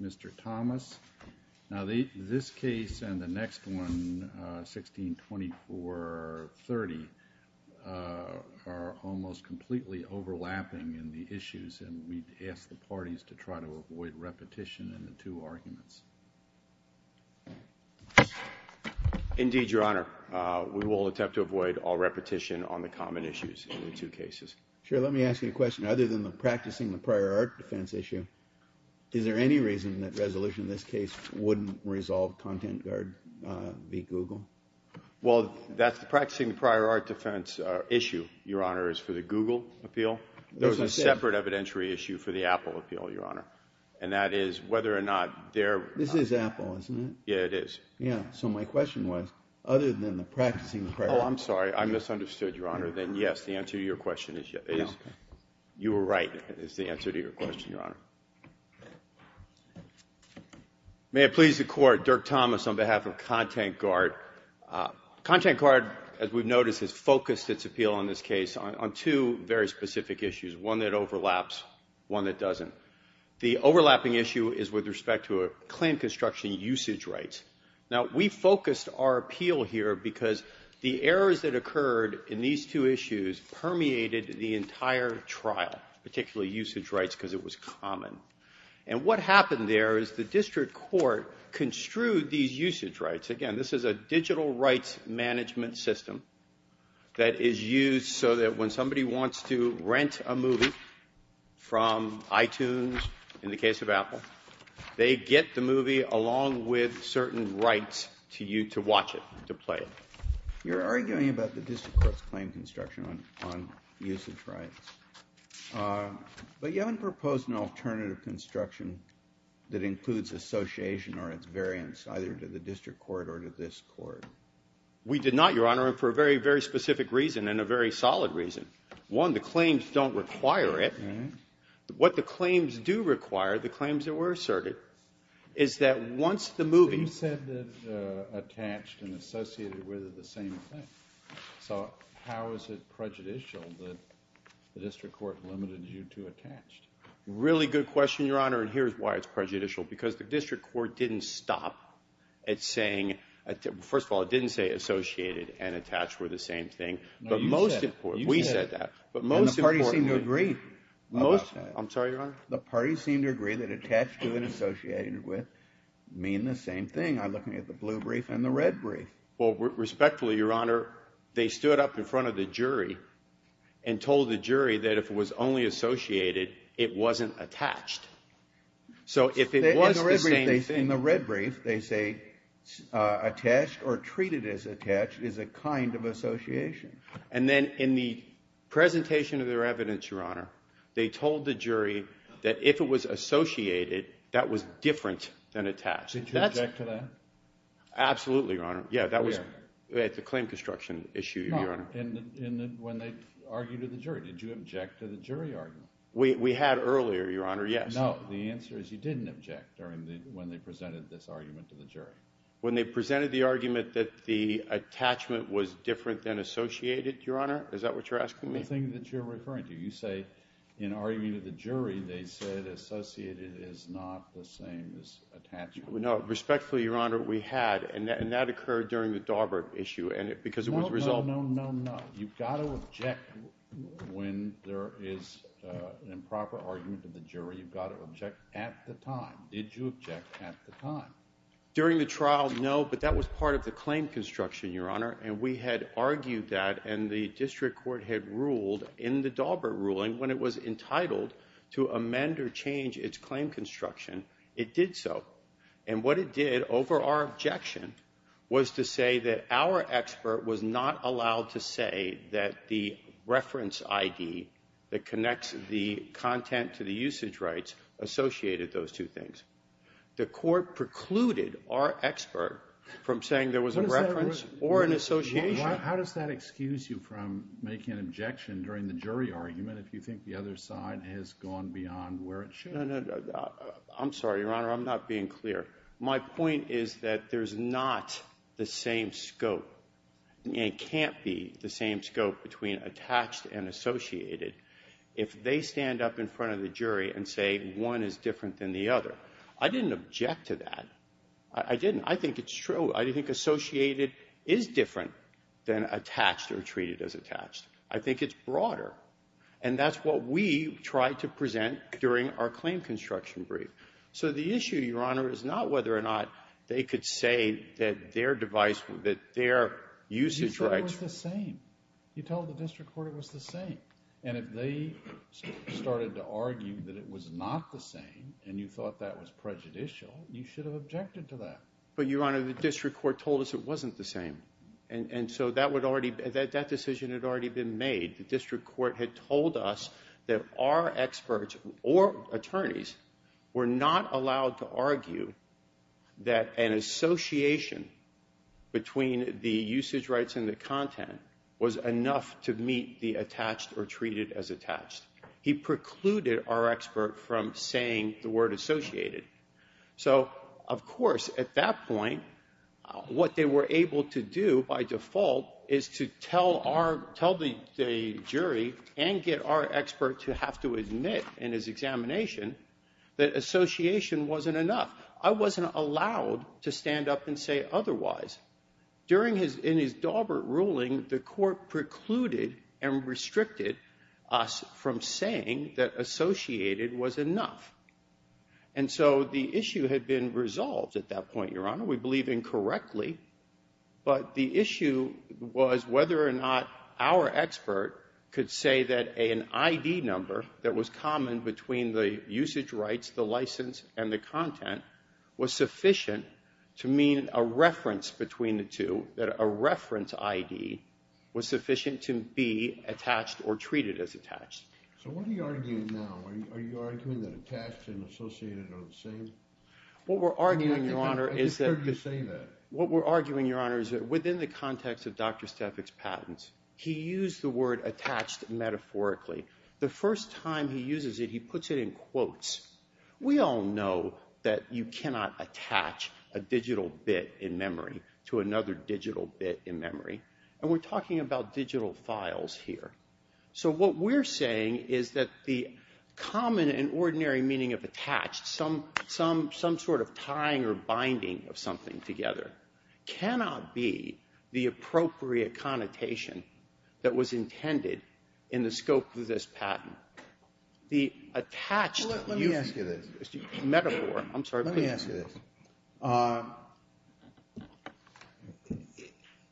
Mr. Thomas. Now, this case and the next one, 16-24-30, are almost completely overlapping in the issues, and we'd ask the parties to try to avoid repetition in the two arguments. Indeed, Your Honor. We will attempt to avoid all repetition on the common issues in the two cases. Sure. Let me ask you a question. Other than the practicing the prior art defense issue, is there any reason that resolution in this case wouldn't resolve content guard v. Google? Well, that's the practicing the prior art defense issue, Your Honor, is for the Google appeal. There's a separate evidentiary issue for the Apple appeal, Your Honor. And that is whether or not they're... This is Apple, isn't it? Yeah, it is. Yeah. So my question was, other than the practicing the prior... Oh, I'm sorry. I misunderstood, Your Honor. Other than, yes, the answer to your question is... You were right, is the answer to your question, Your Honor. May it please the Court, Dirk Thomas on behalf of content guard. Content guard, as we've noticed, has focused its appeal on this case on two very specific issues, one that overlaps, one that doesn't. The overlapping issue is with respect to a claim construction usage rights. Now, we focused our appeal here because the errors that occurred in these two issues permeated the entire trial, particularly usage rights, because it was common. And what happened there is the district court construed these usage rights. Again, this is a digital rights management system that is used so that when somebody wants to rent a movie from iTunes, in the case of Apple, they get the movie along with a certain right to watch it, to play it. You're arguing about the district court's claim construction on usage rights, but you haven't proposed an alternative construction that includes association or its variance either to the district court or to this court. We did not, Your Honor, and for a very, very specific reason and a very solid reason. One, the claims don't require it. What the claims do require, the claims that were asserted, is that once the movie You said that attached and associated were the same thing. So how is it prejudicial that the district court limited you to attached? Really good question, Your Honor, and here's why it's prejudicial. Because the district court didn't stop at saying, first of all, it didn't say associated and attached were the same thing. No, you said it. We said that. And the parties seemed to agree. I'm sorry, Your Honor? The parties seemed to agree that attached to and associated with mean the same thing. I'm looking at the blue brief and the red brief. Well, respectfully, Your Honor, they stood up in front of the jury and told the jury that if it was only associated, it wasn't attached. So if it was the same thing. In the red brief, they say attached or treated as attached is a kind of association. And then in the presentation of their evidence, Your Honor, they told the jury that if it was associated, that was different than attached. Did you object to that? Absolutely, Your Honor. Yeah, that was at the claim construction issue, Your Honor. And when they argued to the jury, did you object to the jury argument? We had earlier, Your Honor, yes. No, the answer is you didn't object when they presented this argument to the jury. When they presented the argument that the attachment was different than associated, Your Honor? Is that what you're asking me? The thing that you're referring to. You say in arguing to the jury, they said associated is not the same as attached. No, respectfully, Your Honor, we had. And that occurred during the Daubert issue because it was resolved. No, no, no, no, no. You've got to object when there is an improper argument to the jury. You've got to object at the time. Did you object at the time? During the trial, no, but that was part of the claim construction, Your Honor, and we had argued that and the district court had ruled in the Daubert ruling when it was entitled to amend or change its claim construction, it did so. And what it did over our objection was to say that our expert was not allowed to say that the reference ID that connects the content to the usage rights associated those two things. The court precluded our expert from saying there was a reference or an association. How does that excuse you from making an objection during the jury argument if you think the other side has gone beyond where it should? No, no, no. I'm sorry, Your Honor, I'm not being clear. My point is that there's not the same scope. It can't be the same scope between attached and associated if they stand up in front of the jury and say one is different than the other. I didn't object to that. I didn't. I think it's true. I think associated is different than attached or treated as attached. I think it's broader, and that's what we tried to present during our claim construction brief. So the issue, Your Honor, is not whether or not they could say that their device, that their usage rights… You said it was the same. You told the district court it was the same, and if they started to argue that it was not the same and you thought that was prejudicial, you should have objected to that. But, Your Honor, the district court told us it wasn't the same, and so that decision had already been made. The district court had told us that our experts or attorneys were not allowed to argue that an association between the usage rights and the content was enough to meet the attached or treated as attached. He precluded our expert from saying the word associated. So, of course, at that point, what they were able to do by default is to tell the jury and get our expert to have to admit in his examination that association wasn't enough. I wasn't allowed to stand up and say otherwise. In his Daubert ruling, the court precluded and restricted us from saying that associated was enough. And so the issue had been resolved at that point, Your Honor. We believe incorrectly. But the issue was whether or not our expert could say that an ID number that was common between the usage rights, the license, and the content was sufficient to mean a reference between the two, that a reference ID was sufficient to be attached or treated as attached. So what are you arguing now? Are you arguing that attached and associated are the same? What we're arguing, Your Honor, is that within the context of Dr. Stefik's patents, he used the word attached metaphorically. The first time he uses it, he puts it in quotes. We all know that you cannot attach a digital bit in memory to another digital bit in memory. And we're talking about digital files here. So what we're saying is that the common and ordinary meaning of attached, some sort of tying or binding of something together, cannot be the appropriate connotation that was intended in the scope of this patent. The attached usage... Let me ask you this. Metaphor, I'm sorry. Let me ask you this.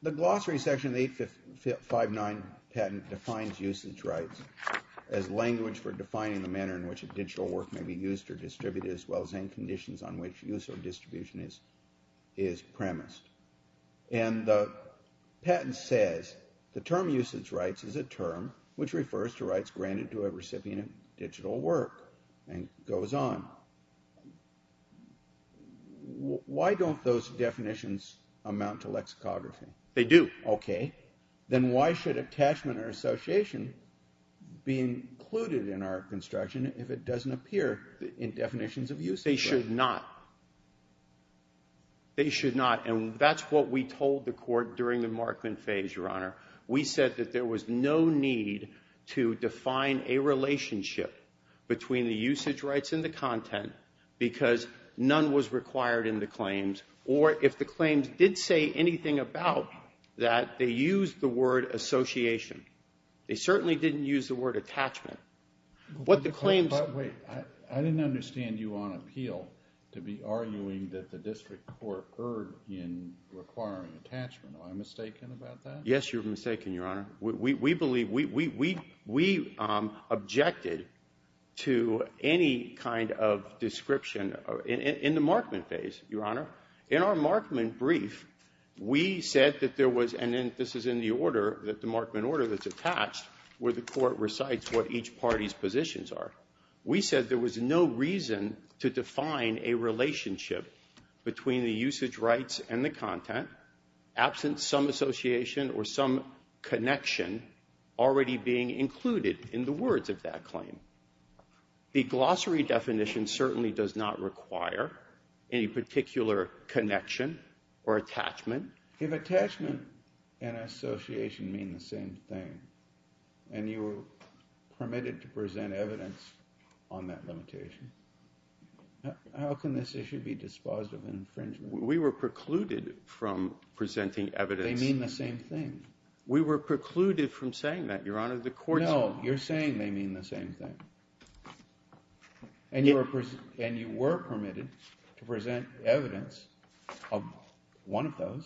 The glossary section of the 859 patent defines usage rights as language for defining the manner in which a digital work may be used or distributed as well as any conditions on which use or distribution is premised. It ran into a recipient of digital work and goes on. Why don't those definitions amount to lexicography? They do. Okay. Then why should attachment or association be included in our construction if it doesn't appear in definitions of usage? They should not. They should not. And that's what we told the court during the Markman phase, Your Honor. We said that there was no need to define a relationship between the usage rights and the content because none was required in the claims. Or if the claims did say anything about that, they used the word association. They certainly didn't use the word attachment. What the claims... Wait. I didn't understand you on appeal to be arguing that the district court erred in requiring attachment. Am I mistaken about that? Yes, you're mistaken, Your Honor. We believe we objected to any kind of description in the Markman phase, Your Honor. In our Markman brief, we said that there was, and this is in the order, the Markman order that's attached where the court recites what each party's positions are. We said there was no reason to define a relationship between the usage rights and the content absent some association or some connection already being included in the words of that claim. The glossary definition certainly does not require any particular connection or attachment. If attachment and association mean the same thing and you were permitted to present evidence on that limitation, how can this issue be dispositive infringement? We were precluded from presenting evidence. They mean the same thing. We were precluded from saying that, Your Honor. No, you're saying they mean the same thing. And you were permitted to present evidence of one of those.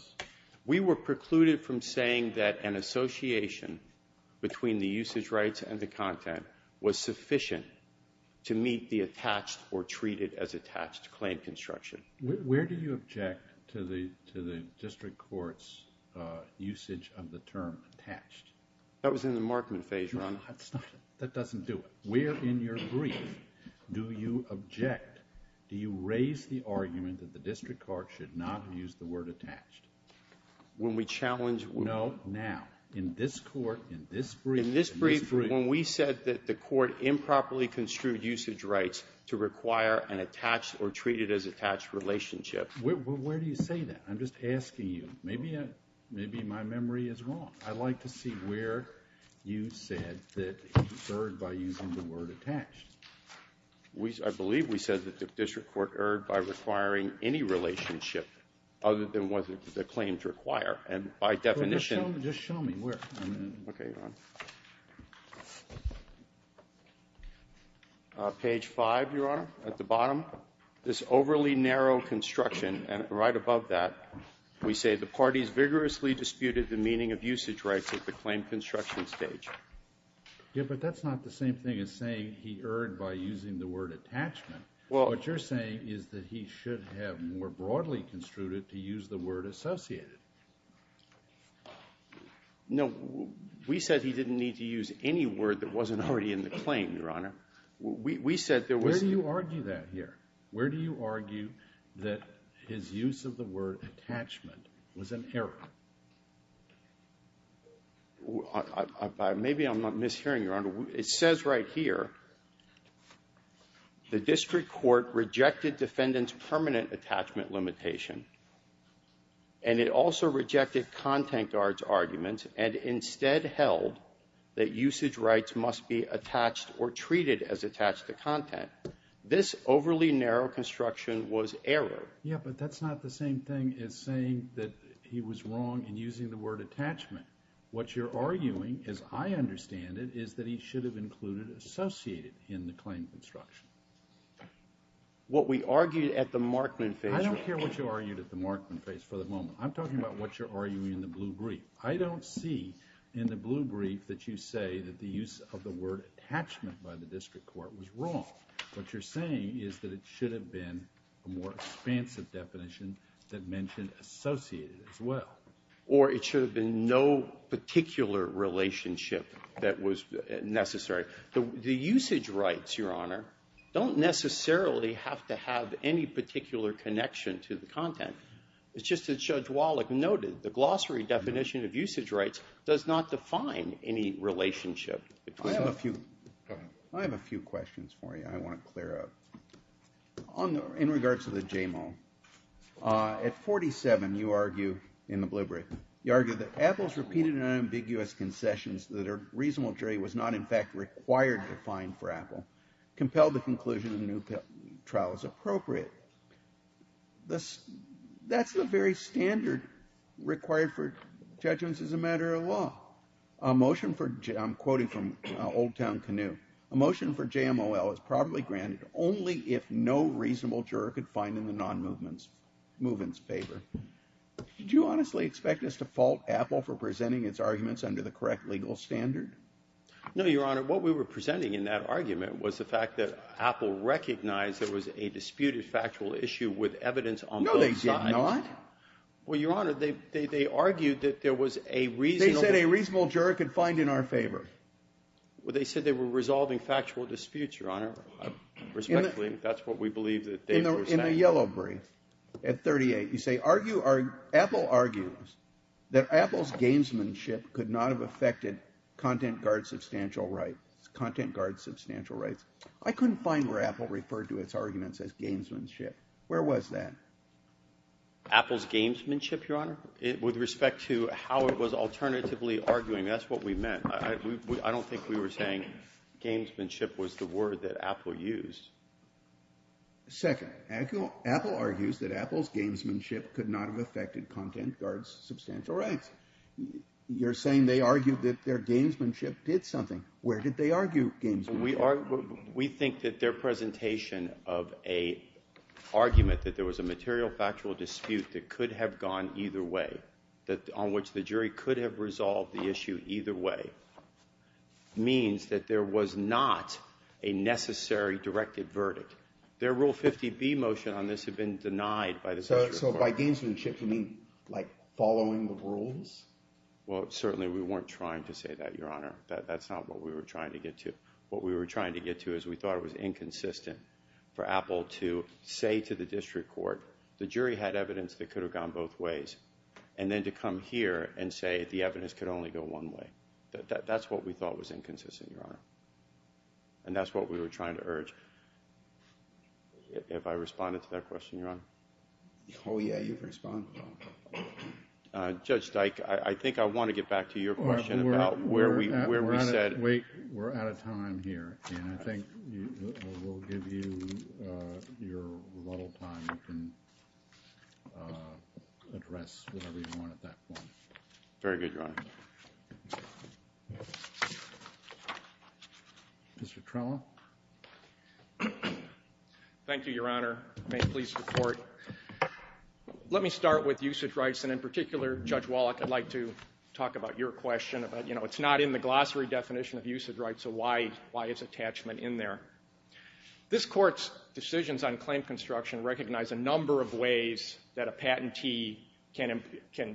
We were precluded from saying that an association between the usage rights and the content was sufficient to meet the attached or treat it as attached claim construction. Where do you object to the district court's usage of the term attached? That was in the Markman phase, Your Honor. That doesn't do it. Where in your brief do you object? Do you raise the argument that the district court should not have used the word attached? When we challenge what? No, now. In this court, in this brief. In this brief, when we said that the court improperly construed usage rights to require an attached or treat it as attached relationship. Where do you say that? I'm just asking you. Maybe my memory is wrong. I'd like to see where you said that it's earned by using the word attached. I believe we said that the district court earned by requiring any relationship other than what the claim to require. And by definition. Just show me where. Okay, Your Honor. Page five, Your Honor. At the bottom. This overly narrow construction. And right above that. We say the parties vigorously disputed the meaning of usage rights at the claim construction stage. Yeah, but that's not the same thing as saying he earned by using the word attachment. What you're saying is that he should have more broadly construed it to use the word associated. No, we said he didn't need to use any word that wasn't already in the claim, Your Honor. We said there was. Where do you argue that here? Where do you argue that his use of the word attachment was an error? Maybe I'm not mishearing, Your Honor. It says right here, the district court rejected defendant's permanent attachment limitation. And it also rejected contact guard's argument and instead held that usage rights must be attached or treated as attached to content. This overly narrow construction was error. Yeah, but that's not the same thing as saying that he was wrong in using the word attachment. What you're arguing, as I understand it, is that he should have included associated in the claim construction. What we argued at the Markman phase. I don't care what you argued at the Markman phase for the moment. I'm talking about what you're arguing in the blue brief. I don't see in the blue brief that you say that the use of the word attachment by the district court was wrong. What you're saying is that it should have been a more expansive definition that mentioned associated as well. Or it should have been no particular relationship that was necessary. The usage rights, Your Honor, don't necessarily have to have any particular connection to the content. It's just that Judge Wallach noted the glossary definition of usage rights does not define any relationship. I have a few questions for you I want to clear up. In regards to the JMO, at 47 you argue in the blue brief, you argue that Apple's repeated and unambiguous concessions that a reasonable jury was not in fact required to find for Apple compelled the conclusion of the new trial as appropriate. That's the very standard required for judgments as a matter of law. A motion for, I'm quoting from Old Town Canoe, a motion for JMOL is probably granted only if no reasonable juror could find in the non-movement's favor. Did you honestly expect us to fault Apple for presenting its arguments under the correct legal standard? No, Your Honor, what we were presenting in that argument was the fact that Apple recognized there was a disputed factual issue with evidence on both sides. No, they did not. Well, Your Honor, they argued that there was a reasonable They said a reasonable juror could find in our favor. Well, they said they were resolving factual disputes, Your Honor. Respectfully, that's what we believe that they were saying. In the yellow brief, at 38, you say, Apple argues that Apple's gamesmanship could not have affected content guard substantial rights. I couldn't find where Apple referred to its arguments as gamesmanship. Where was that? Apple's gamesmanship, Your Honor? With respect to how it was alternatively arguing, that's what we meant. I don't think we were saying gamesmanship was the word that Apple used. Second, Apple argues that Apple's gamesmanship could not have affected content guard's substantial rights. You're saying they argued that their gamesmanship did something. Where did they argue gamesmanship? We think that their presentation of an argument that there was a material factual dispute that could have gone either way, on which the jury could have resolved the issue either way, means that there was not a necessary directed verdict. Their Rule 50B motion on this had been denied by the district court. So by gamesmanship, you mean like following the rules? Well, certainly we weren't trying to say that, Your Honor. That's not what we were trying to get to. What we were trying to get to is we thought it was inconsistent for Apple to say to the district court, the jury had evidence that could have gone both ways, and then to come here and say the evidence could only go one way. That's what we thought was inconsistent, Your Honor. And that's what we were trying to urge. Have I responded to that question, Your Honor? Oh, yeah, you've responded well. Judge Dyke, I think I want to get back to your question about where we said... We're out of time here, and I think we'll give you your rebuttal time and you can address whatever you want at that point. Very good, Your Honor. Mr. Trello. Thank you, Your Honor. May it please the Court. Let me start with usage rights, and in particular, Judge Wallach, I'd like to talk about your question about, you know, it's not in the glossary definition of usage rights, so why is attachment in there? This Court's decisions on claim construction recognize a number of ways that a patentee can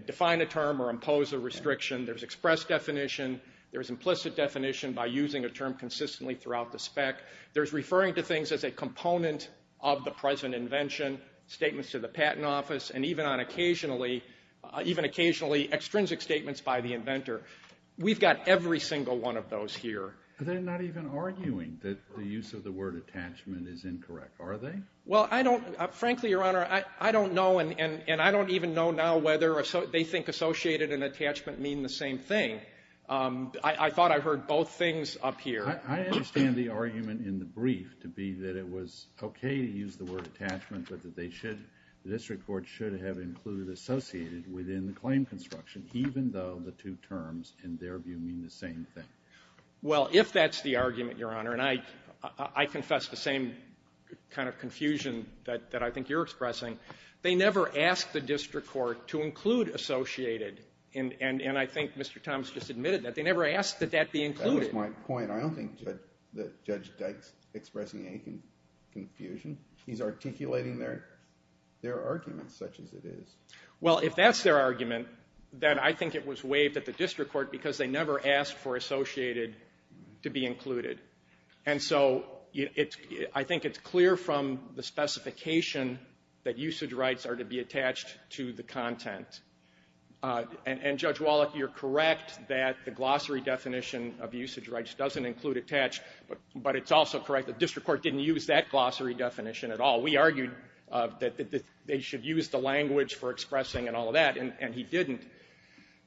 define a term or impose a restriction. There's express definition. There's implicit definition by using a term consistently throughout the spec. There's referring to things as a component of the present invention, statements to the patent office, and even occasionally extrinsic statements by the inventor. We've got every single one of those here. They're not even arguing that the use of the word attachment is incorrect, are they? Well, I don't, frankly, Your Honor, I don't know, and I don't even know now whether they think associated and attachment mean the same thing. I thought I heard both things up here. I understand the argument in the brief to be that it was okay to use the word attachment, but that they should, the district court should have included associated within the claim construction, even though the two terms in their view mean the same thing. Well, if that's the argument, Your Honor, and I confess the same kind of confusion that I think you're expressing, they never asked the district court to include associated, and I think Mr. Thomas just admitted that. They never asked that that be included. That was my point. I don't think that Judge Dykes is expressing any confusion. He's articulating their argument such as it is. Well, if that's their argument, then I think it was waived at the district court because they never asked for associated to be included. And so I think it's clear from the specification that usage rights are to be attached to the content. And, Judge Wallach, you're correct that the glossary definition of usage rights doesn't include attached, but it's also correct that the district court didn't use that glossary definition at all. We argued that they should use the language for expressing and all of that, and he didn't.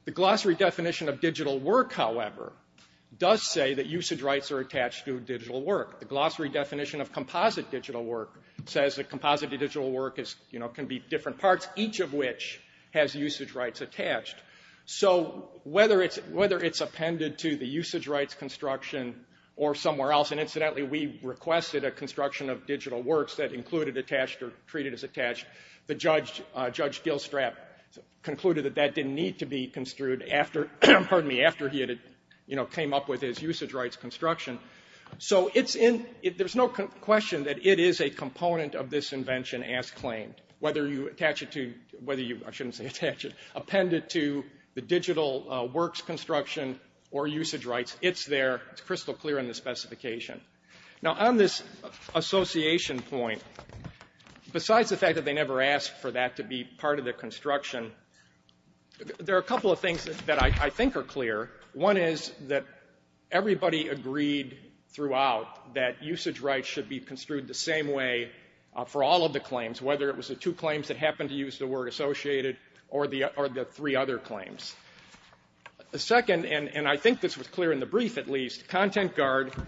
The glossary definition of digital work, however, does say that usage rights are attached to digital work. The glossary definition of composite digital work says that composite digital work can be different parts, each of which has usage rights attached. So whether it's appended to the usage rights construction or somewhere else, and incidentally we requested a construction of digital works that included attached or treated as attached, the judge, Judge Dilstrap, concluded that that didn't need to be construed after, pardon me, after he had, you know, came up with his usage rights construction. So it's in, there's no question that it is a component of this invention as claimed. Whether you attach it to, whether you, I shouldn't say attach it, append it to the digital works construction or usage rights, it's there, it's crystal clear in the specification. Now on this association point, besides the fact that they never asked for that to be part of the construction, there are a couple of things that I think are clear. One is that everybody agreed throughout that usage rights should be construed the same way for all of the claims, whether it was the two claims that happened to use the word associated or the three other claims. The second, and I think this was clear in the brief at least, is ContentGuard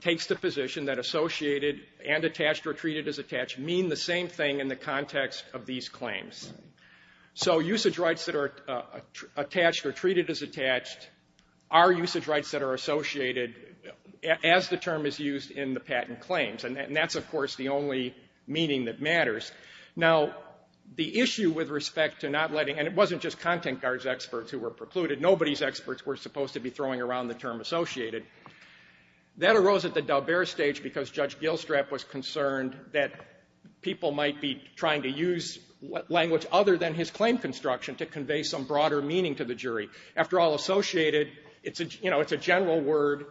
takes the position that associated and attached or treated as attached mean the same thing in the context of these claims. So usage rights that are attached or treated as attached are usage rights that are associated as the term is used in the patent claims. And that's, of course, the only meaning that matters. Now the issue with respect to not letting, and it wasn't just ContentGuard's experts who were precluded, nobody's experts were supposed to be throwing around the term associated. That arose at the Dalbert stage because Judge Gilstrap was concerned that people might be trying to use language other than his claim construction to convey some broader meaning to the jury. After all, associated, it's a general word.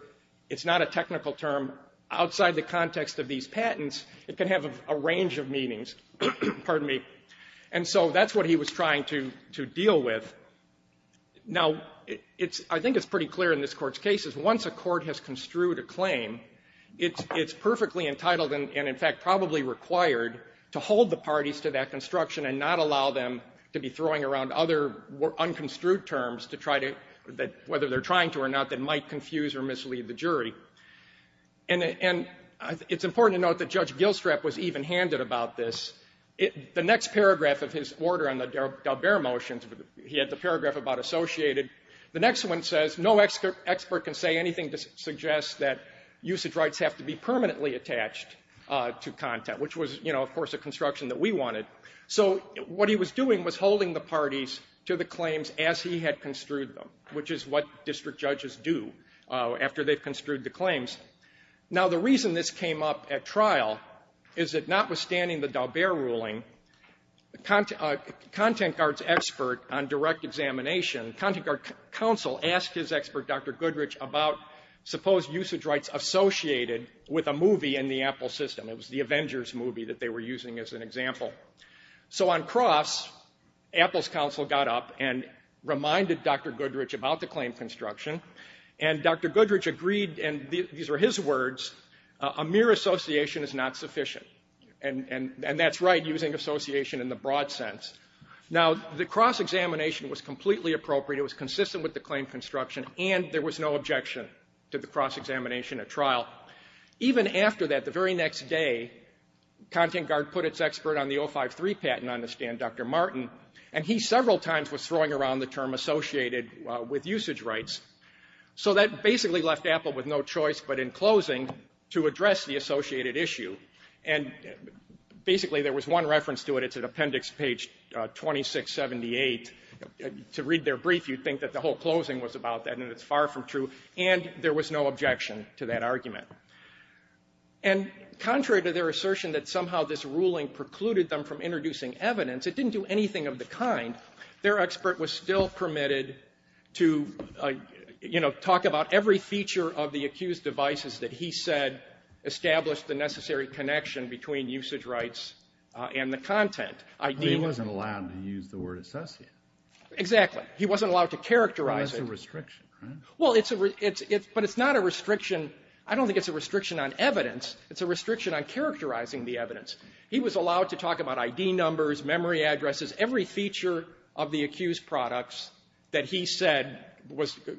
It's not a technical term. Outside the context of these patents, it can have a range of meanings. Pardon me. And so that's what he was trying to deal with. Now, I think it's pretty clear in this Court's case is once a court has construed a claim, it's perfectly entitled and, in fact, probably required to hold the parties to that construction and not allow them to be throwing around other unconstrued terms to try to, whether they're trying to or not, that might confuse or mislead the jury. And it's important to note that Judge Gilstrap was even-handed about this. The next paragraph of his order on the Dalbert motions, he had the paragraph about associated. The next one says, no expert can say anything to suggest that usage rights have to be permanently attached to content, which was, of course, a construction that we wanted. So what he was doing was holding the parties to the claims as he had construed them, which is what district judges do after they've construed the claims. Now, the reason this came up at trial is that notwithstanding the Dalbert ruling, Content Guard's expert on direct examination, Content Guard counsel asked his expert, Dr. Goodrich, about supposed usage rights associated with a movie in the Apple system. It was the Avengers movie that they were using as an example. So on cross, Apple's counsel got up and reminded Dr. Goodrich about the claim construction, and Dr. Goodrich agreed, and these were his words, a mere association is not sufficient. And that's right, using association in the broad sense. Now, the cross-examination was completely appropriate. It was consistent with the claim construction, and there was no objection to the cross-examination at trial. Even after that, the very next day, Content Guard put its expert on the 053 patent on the stand, Dr. Martin, and he several times was throwing around the term associated with usage rights. So that basically left Apple with no choice but, in closing, to address the associated issue. And basically, there was one reference to it. It's at appendix page 2678. To read their brief, you'd think that the whole closing was about that, and it's far from true, and there was no objection to that argument. And contrary to their assertion that somehow this ruling precluded them from introducing evidence, it didn't do anything of the kind. Their expert was still permitted to, you know, talk about every feature of the accused devices that he said established the necessary connection between usage rights and the content. He wasn't allowed to use the word associated. Exactly. He wasn't allowed to characterize it. That's a restriction, right? Well, it's a restriction, but it's not a restriction. I don't think it's a restriction on evidence. It's a restriction on characterizing the evidence. He was allowed to talk about ID numbers, memory addresses, every feature of the accused products that he said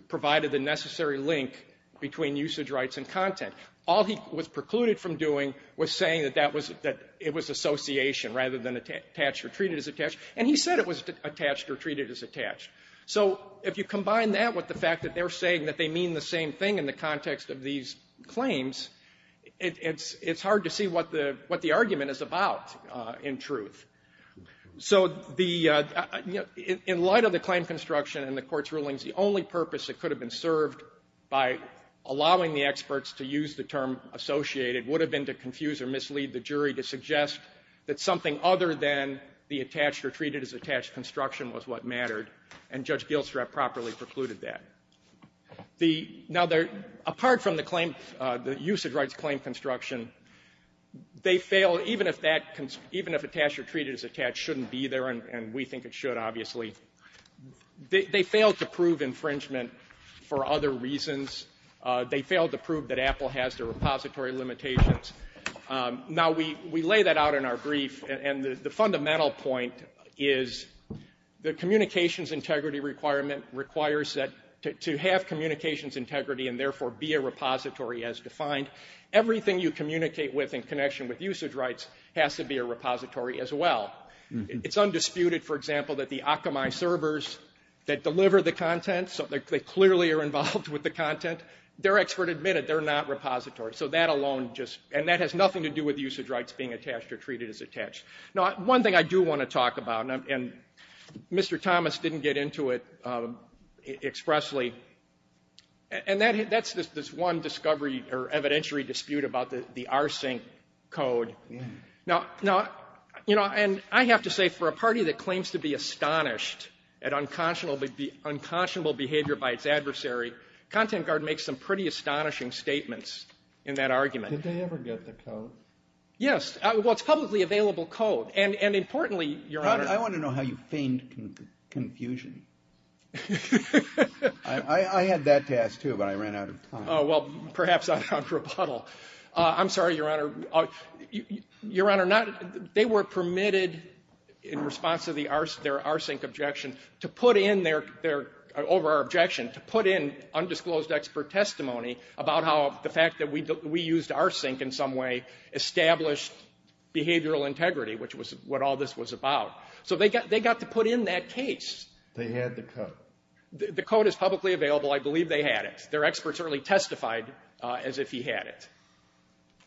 provided the necessary link between usage rights and content. All he was precluded from doing was saying that that was that it was association rather than attached or treated as attached. And he said it was attached or treated as attached. So if you combine that with the fact that they're saying that they mean the same thing in the context of these claims, it's hard to see what the argument is about in truth. So the, you know, in light of the claim construction and the Court's rulings, the only purpose that could have been served by allowing the experts to use the term associated would have been to confuse or mislead the jury to suggest that something other than the attached or treated as attached construction was what mattered. And Judge Gilstrap properly precluded that. The, now there, apart from the claim, the usage rights claim construction, they fail, even if that, even if attached or treated as attached shouldn't be there and we think it should, obviously, they fail to prove infringement for other reasons. They fail to prove that Apple has their repository limitations. Now, we lay that out in our brief and the fundamental point is the communications integrity requirement requires that, to have communications integrity and, therefore, be a repository as defined, everything you communicate with in connection with usage rights has to be a repository as well. It's undisputed, for example, that the Akamai servers that deliver the content, so they clearly are involved with the content, their expert admitted that they're not repositories, so that alone just, and that has nothing to do with usage rights being attached or treated as attached. Now, one thing I do want to talk about and Mr. Thomas didn't get into it expressly and that's this one discovery or evidentiary dispute about the R-Sync code. Now, you know, and I have to say for a party that claims to be astonished at unconscionable behavior by its adversary, Content Guard makes some pretty astonishing statements in that argument. Did they ever get the code? Yes, well, it's publicly available code and, importantly, Your Honor... I want to know how you feigned confusion. I had that to ask, too, but I ran out of time. Oh, well, perhaps I'll have to rebuttal. I'm sorry, Your Honor. Your Honor, they were permitted in response to their R-Sync objection to put in their, over our objection, to put in undisclosed expert testimony about how the fact that we used R-Sync in some way established behavioral integrity, which was what all this was about. So they got to put in that case. They had the code. The code is publicly available. I believe they had it. Their expert certainly testified as if he had it.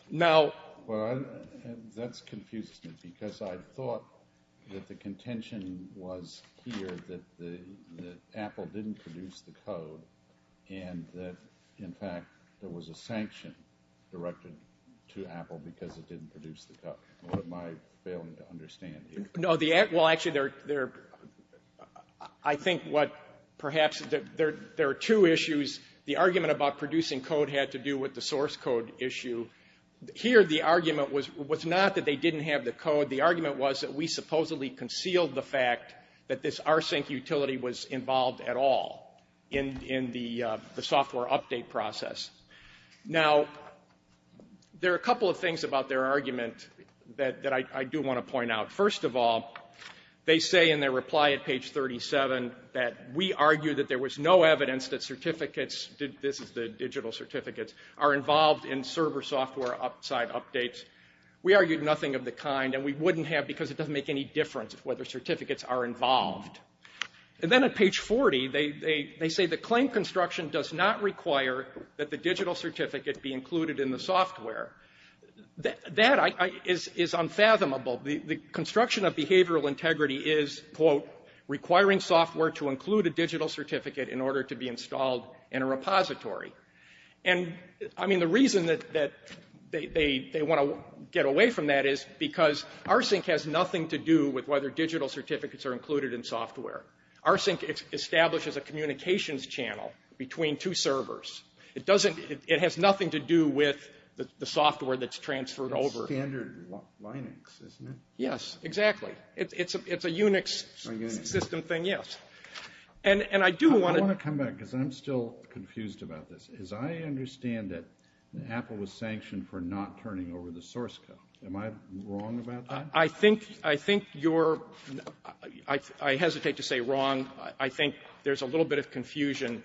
Now... Well, that confuses me because I thought that the contention was here that Apple didn't produce the code, and that, in fact, there was a sanction directed to Apple because it didn't produce the code. What am I failing to understand here? No, the... Well, actually, there... I think what perhaps... There are two issues. The argument about producing code had to do with the source code issue. Here, the argument was not that they didn't have the code. The argument was that we supposedly concealed the fact that this R-Sync utility was involved at all in the software update process. Now, there are a couple of things about their argument that I do want to point out. First of all, they say in their reply at page 37 that we argue that there was no evidence that certificates... This is the digital certificates... are involved in server software side updates. We argued nothing of the kind, and we wouldn't have because it doesn't make any difference whether certificates are involved. And then at page 40, they say the claim construction does not require that the digital certificate be included in the software. That is unfathomable. The construction of behavioral integrity is, quote, requiring software to include a digital certificate in order to be installed in a repository. And, I mean, the reason that they want to get away from that is because R-Sync has nothing to do with whether digital certificates are included in software. R-Sync establishes a communications channel between two servers. It doesn't... It has nothing to do with the software that's transferred over. It's standard Linux, isn't it? Yes, exactly. It's a Unix system thing, yes. And I do want to... I want to come back because I'm still confused about this. As I understand it, Apple was sanctioned for not turning over the source code. Am I wrong about that? I think you're... I hesitate to say wrong. I think there's a little bit of confusion.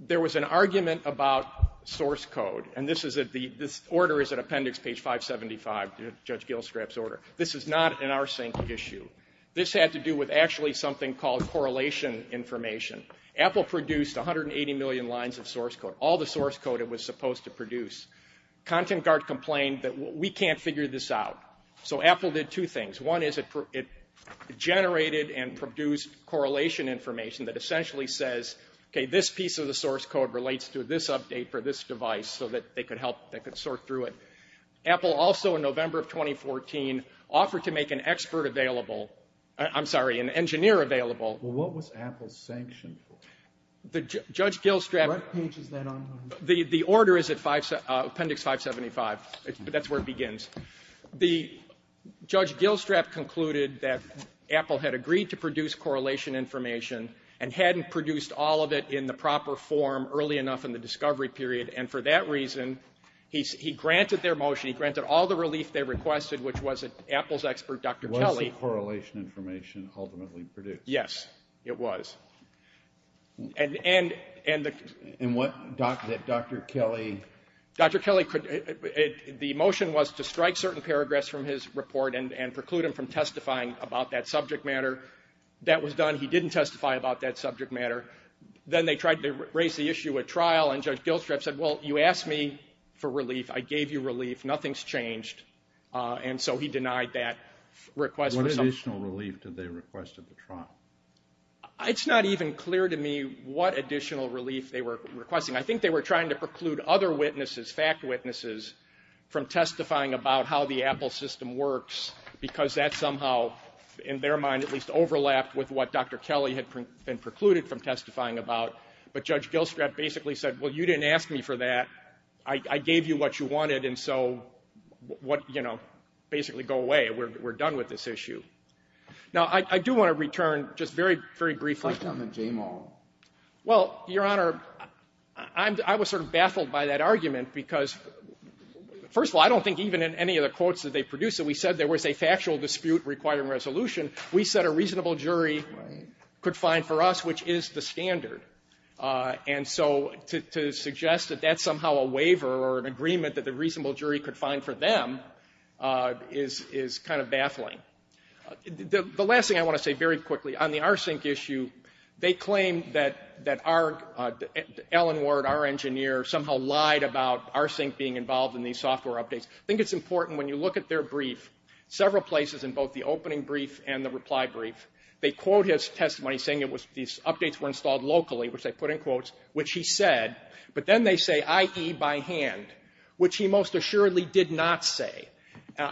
There was an argument about source code. And this order is at appendix page 575, Judge Gilstrap's order. This is not an R-Sync issue. This had to do with actually something called correlation information. Apple produced 180 million lines of source code, all the source code it was supposed to produce. Content Guard complained that we can't figure this out. So Apple did two things. One is it generated and produced correlation information that essentially says, okay, this piece of the source code relates to this update for this device so that they could help, they could sort through it. Apple also in November of 2014 offered to make an expert available. I'm sorry, an engineer available. Well, what was Apple sanctioned for? What page is that on? The order is at appendix 575. That's where it begins. The Judge Gilstrap concluded that Apple had agreed to produce correlation information and hadn't produced all of it in the proper form early enough in the discovery period. And for that reason, he granted their motion, he granted all the relief they requested, which was that Apple's expert, Dr. Kelly... Was the correlation information ultimately produced? Yes, it was. And what Dr. Kelly... Dr. Kelly... The motion was to strike certain paragraphs from his report and preclude him from testifying about that subject matter. That was done. He didn't testify about that subject matter. Then they tried to raise the issue at trial and Judge Gilstrap said, well, you asked me for relief. I gave you relief. Nothing's changed. And so he denied that request. What additional relief did they request at the trial? It's not even clear to me what additional relief they were requesting. I think they were trying to preclude other witnesses, fact witnesses, from testifying about how the Apple system works because that somehow, in their mind, at least overlapped with what Dr. Kelly had been precluded from testifying about. But Judge Gilstrap basically said, well, you didn't ask me for that. I gave you what you wanted and so, you know, basically go away. We're done with this issue. Now, I do want to return just very, very briefly... What about the JMO? Well, Your Honor, I was sort of baffled by that argument because, first of all, I don't think even in any of the quotes that they produced that we said there was a factual dispute requiring resolution. We said a reasonable jury could find for us, which is the standard. And so to suggest that that's somehow a waiver or an agreement that the reasonable jury could find for them is kind of baffling. The last thing I want to say very quickly, on the Arsync issue, they claim that our, Alan Ward, our engineer, somehow lied about Arsync being involved in these software updates. I think it's important when you look at their brief, several places in both the opening brief and the reply brief, they quote his testimony saying these updates were installed locally, which they put in quotes, which he said, but then they say I.E. by hand, which he most assuredly did not say.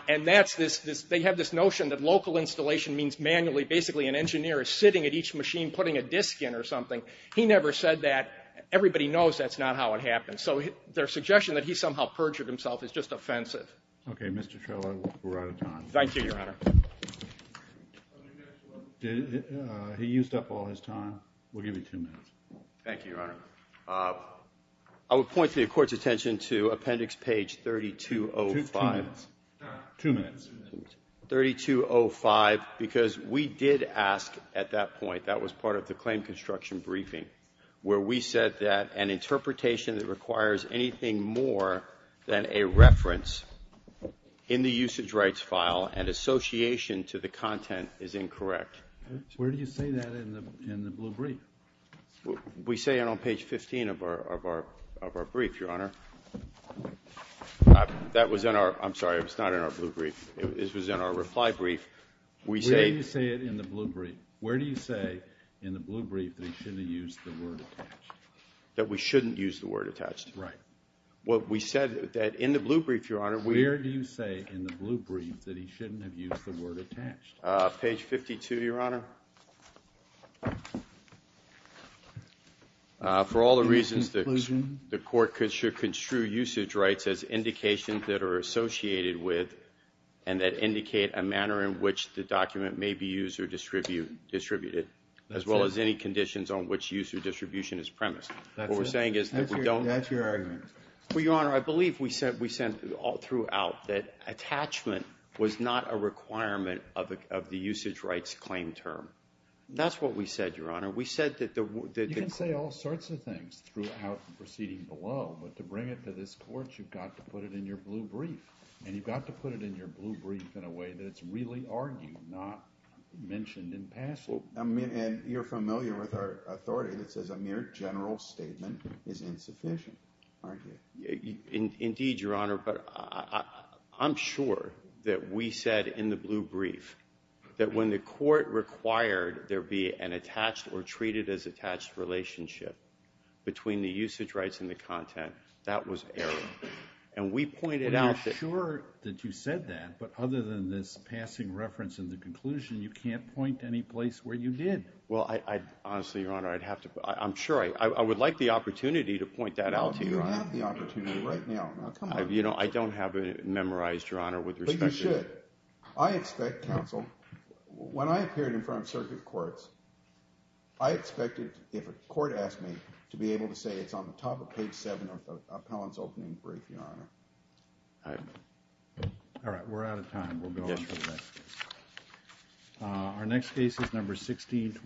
And that's this, they have this notion that local installation means manually, basically an engineer is sitting at each machine putting a disk in or something. He never said that. Everybody knows that's not how it happens. So their suggestion that he somehow perjured himself is just offensive. Okay. Mr. Trello, we're out of time. Thank you, Your Honor. He used up all his time. We'll give you two minutes. Thank you, Your Honor. I would point to the Court's attention to appendix page 3205. Two minutes. Two minutes. 3205, because we did ask at that point, that was part of the claim construction briefing, where we said that an interpretation that requires anything more than a reference in the usage rights file and association to the content is incorrect. Where do you say that in the blue brief? We say it on page 15 of our brief, Your Honor. That was in our, I'm sorry, it was not in our blue brief. It was in our reply brief. Where do you say it in the blue brief? Where do you say in the blue brief that he shouldn't use the word attached? That we shouldn't use the word attached. Right. We said that in the blue brief, Your Honor. Where do you say in the blue brief that he shouldn't have used the word attached? Page 52, Your Honor. For all the reasons the Court should construe usage rights as indications that are associated with and that indicate a manner in which the document may be used or distributed, as well as any conditions on which use or distribution is premised. What we're saying is that we don't... That's your argument. Well, Your Honor, I believe we said throughout that attachment was not a requirement of the usage rights claim term. That's what we said, Your Honor. We said that the... You can say all sorts of things throughout the proceeding below, but to bring it to this Court, you've got to put it in your blue brief. And you've got to put it in your blue brief in a way that it's really argued, not mentioned in passage. I mean, and you're familiar with our authority that says a mere general statement is insufficient, aren't you? Indeed, Your Honor, but I'm sure that we said in the blue brief that when the Court required there be an attached or treated-as-attached relationship between the usage rights and the content, that was error. And we pointed out that... Well, you're sure that you said that, but other than this passing reference in the conclusion, you can't point to any place where you did. Well, honestly, Your Honor, I'd have to... I'm sure... I would like the opportunity to point that out to you. Well, you have the opportunity right now. Now, come on. You know, I don't have it memorized, Your Honor, with respect to... But you should. I expect, Counsel, when I appeared in front of circuit courts, I expected, if a court asked me, to be able to say it's on the top of page 7 of the appellant's opening brief, Your Honor. All right, we're out of time. We'll go on to the next case. Our next case is number 1620.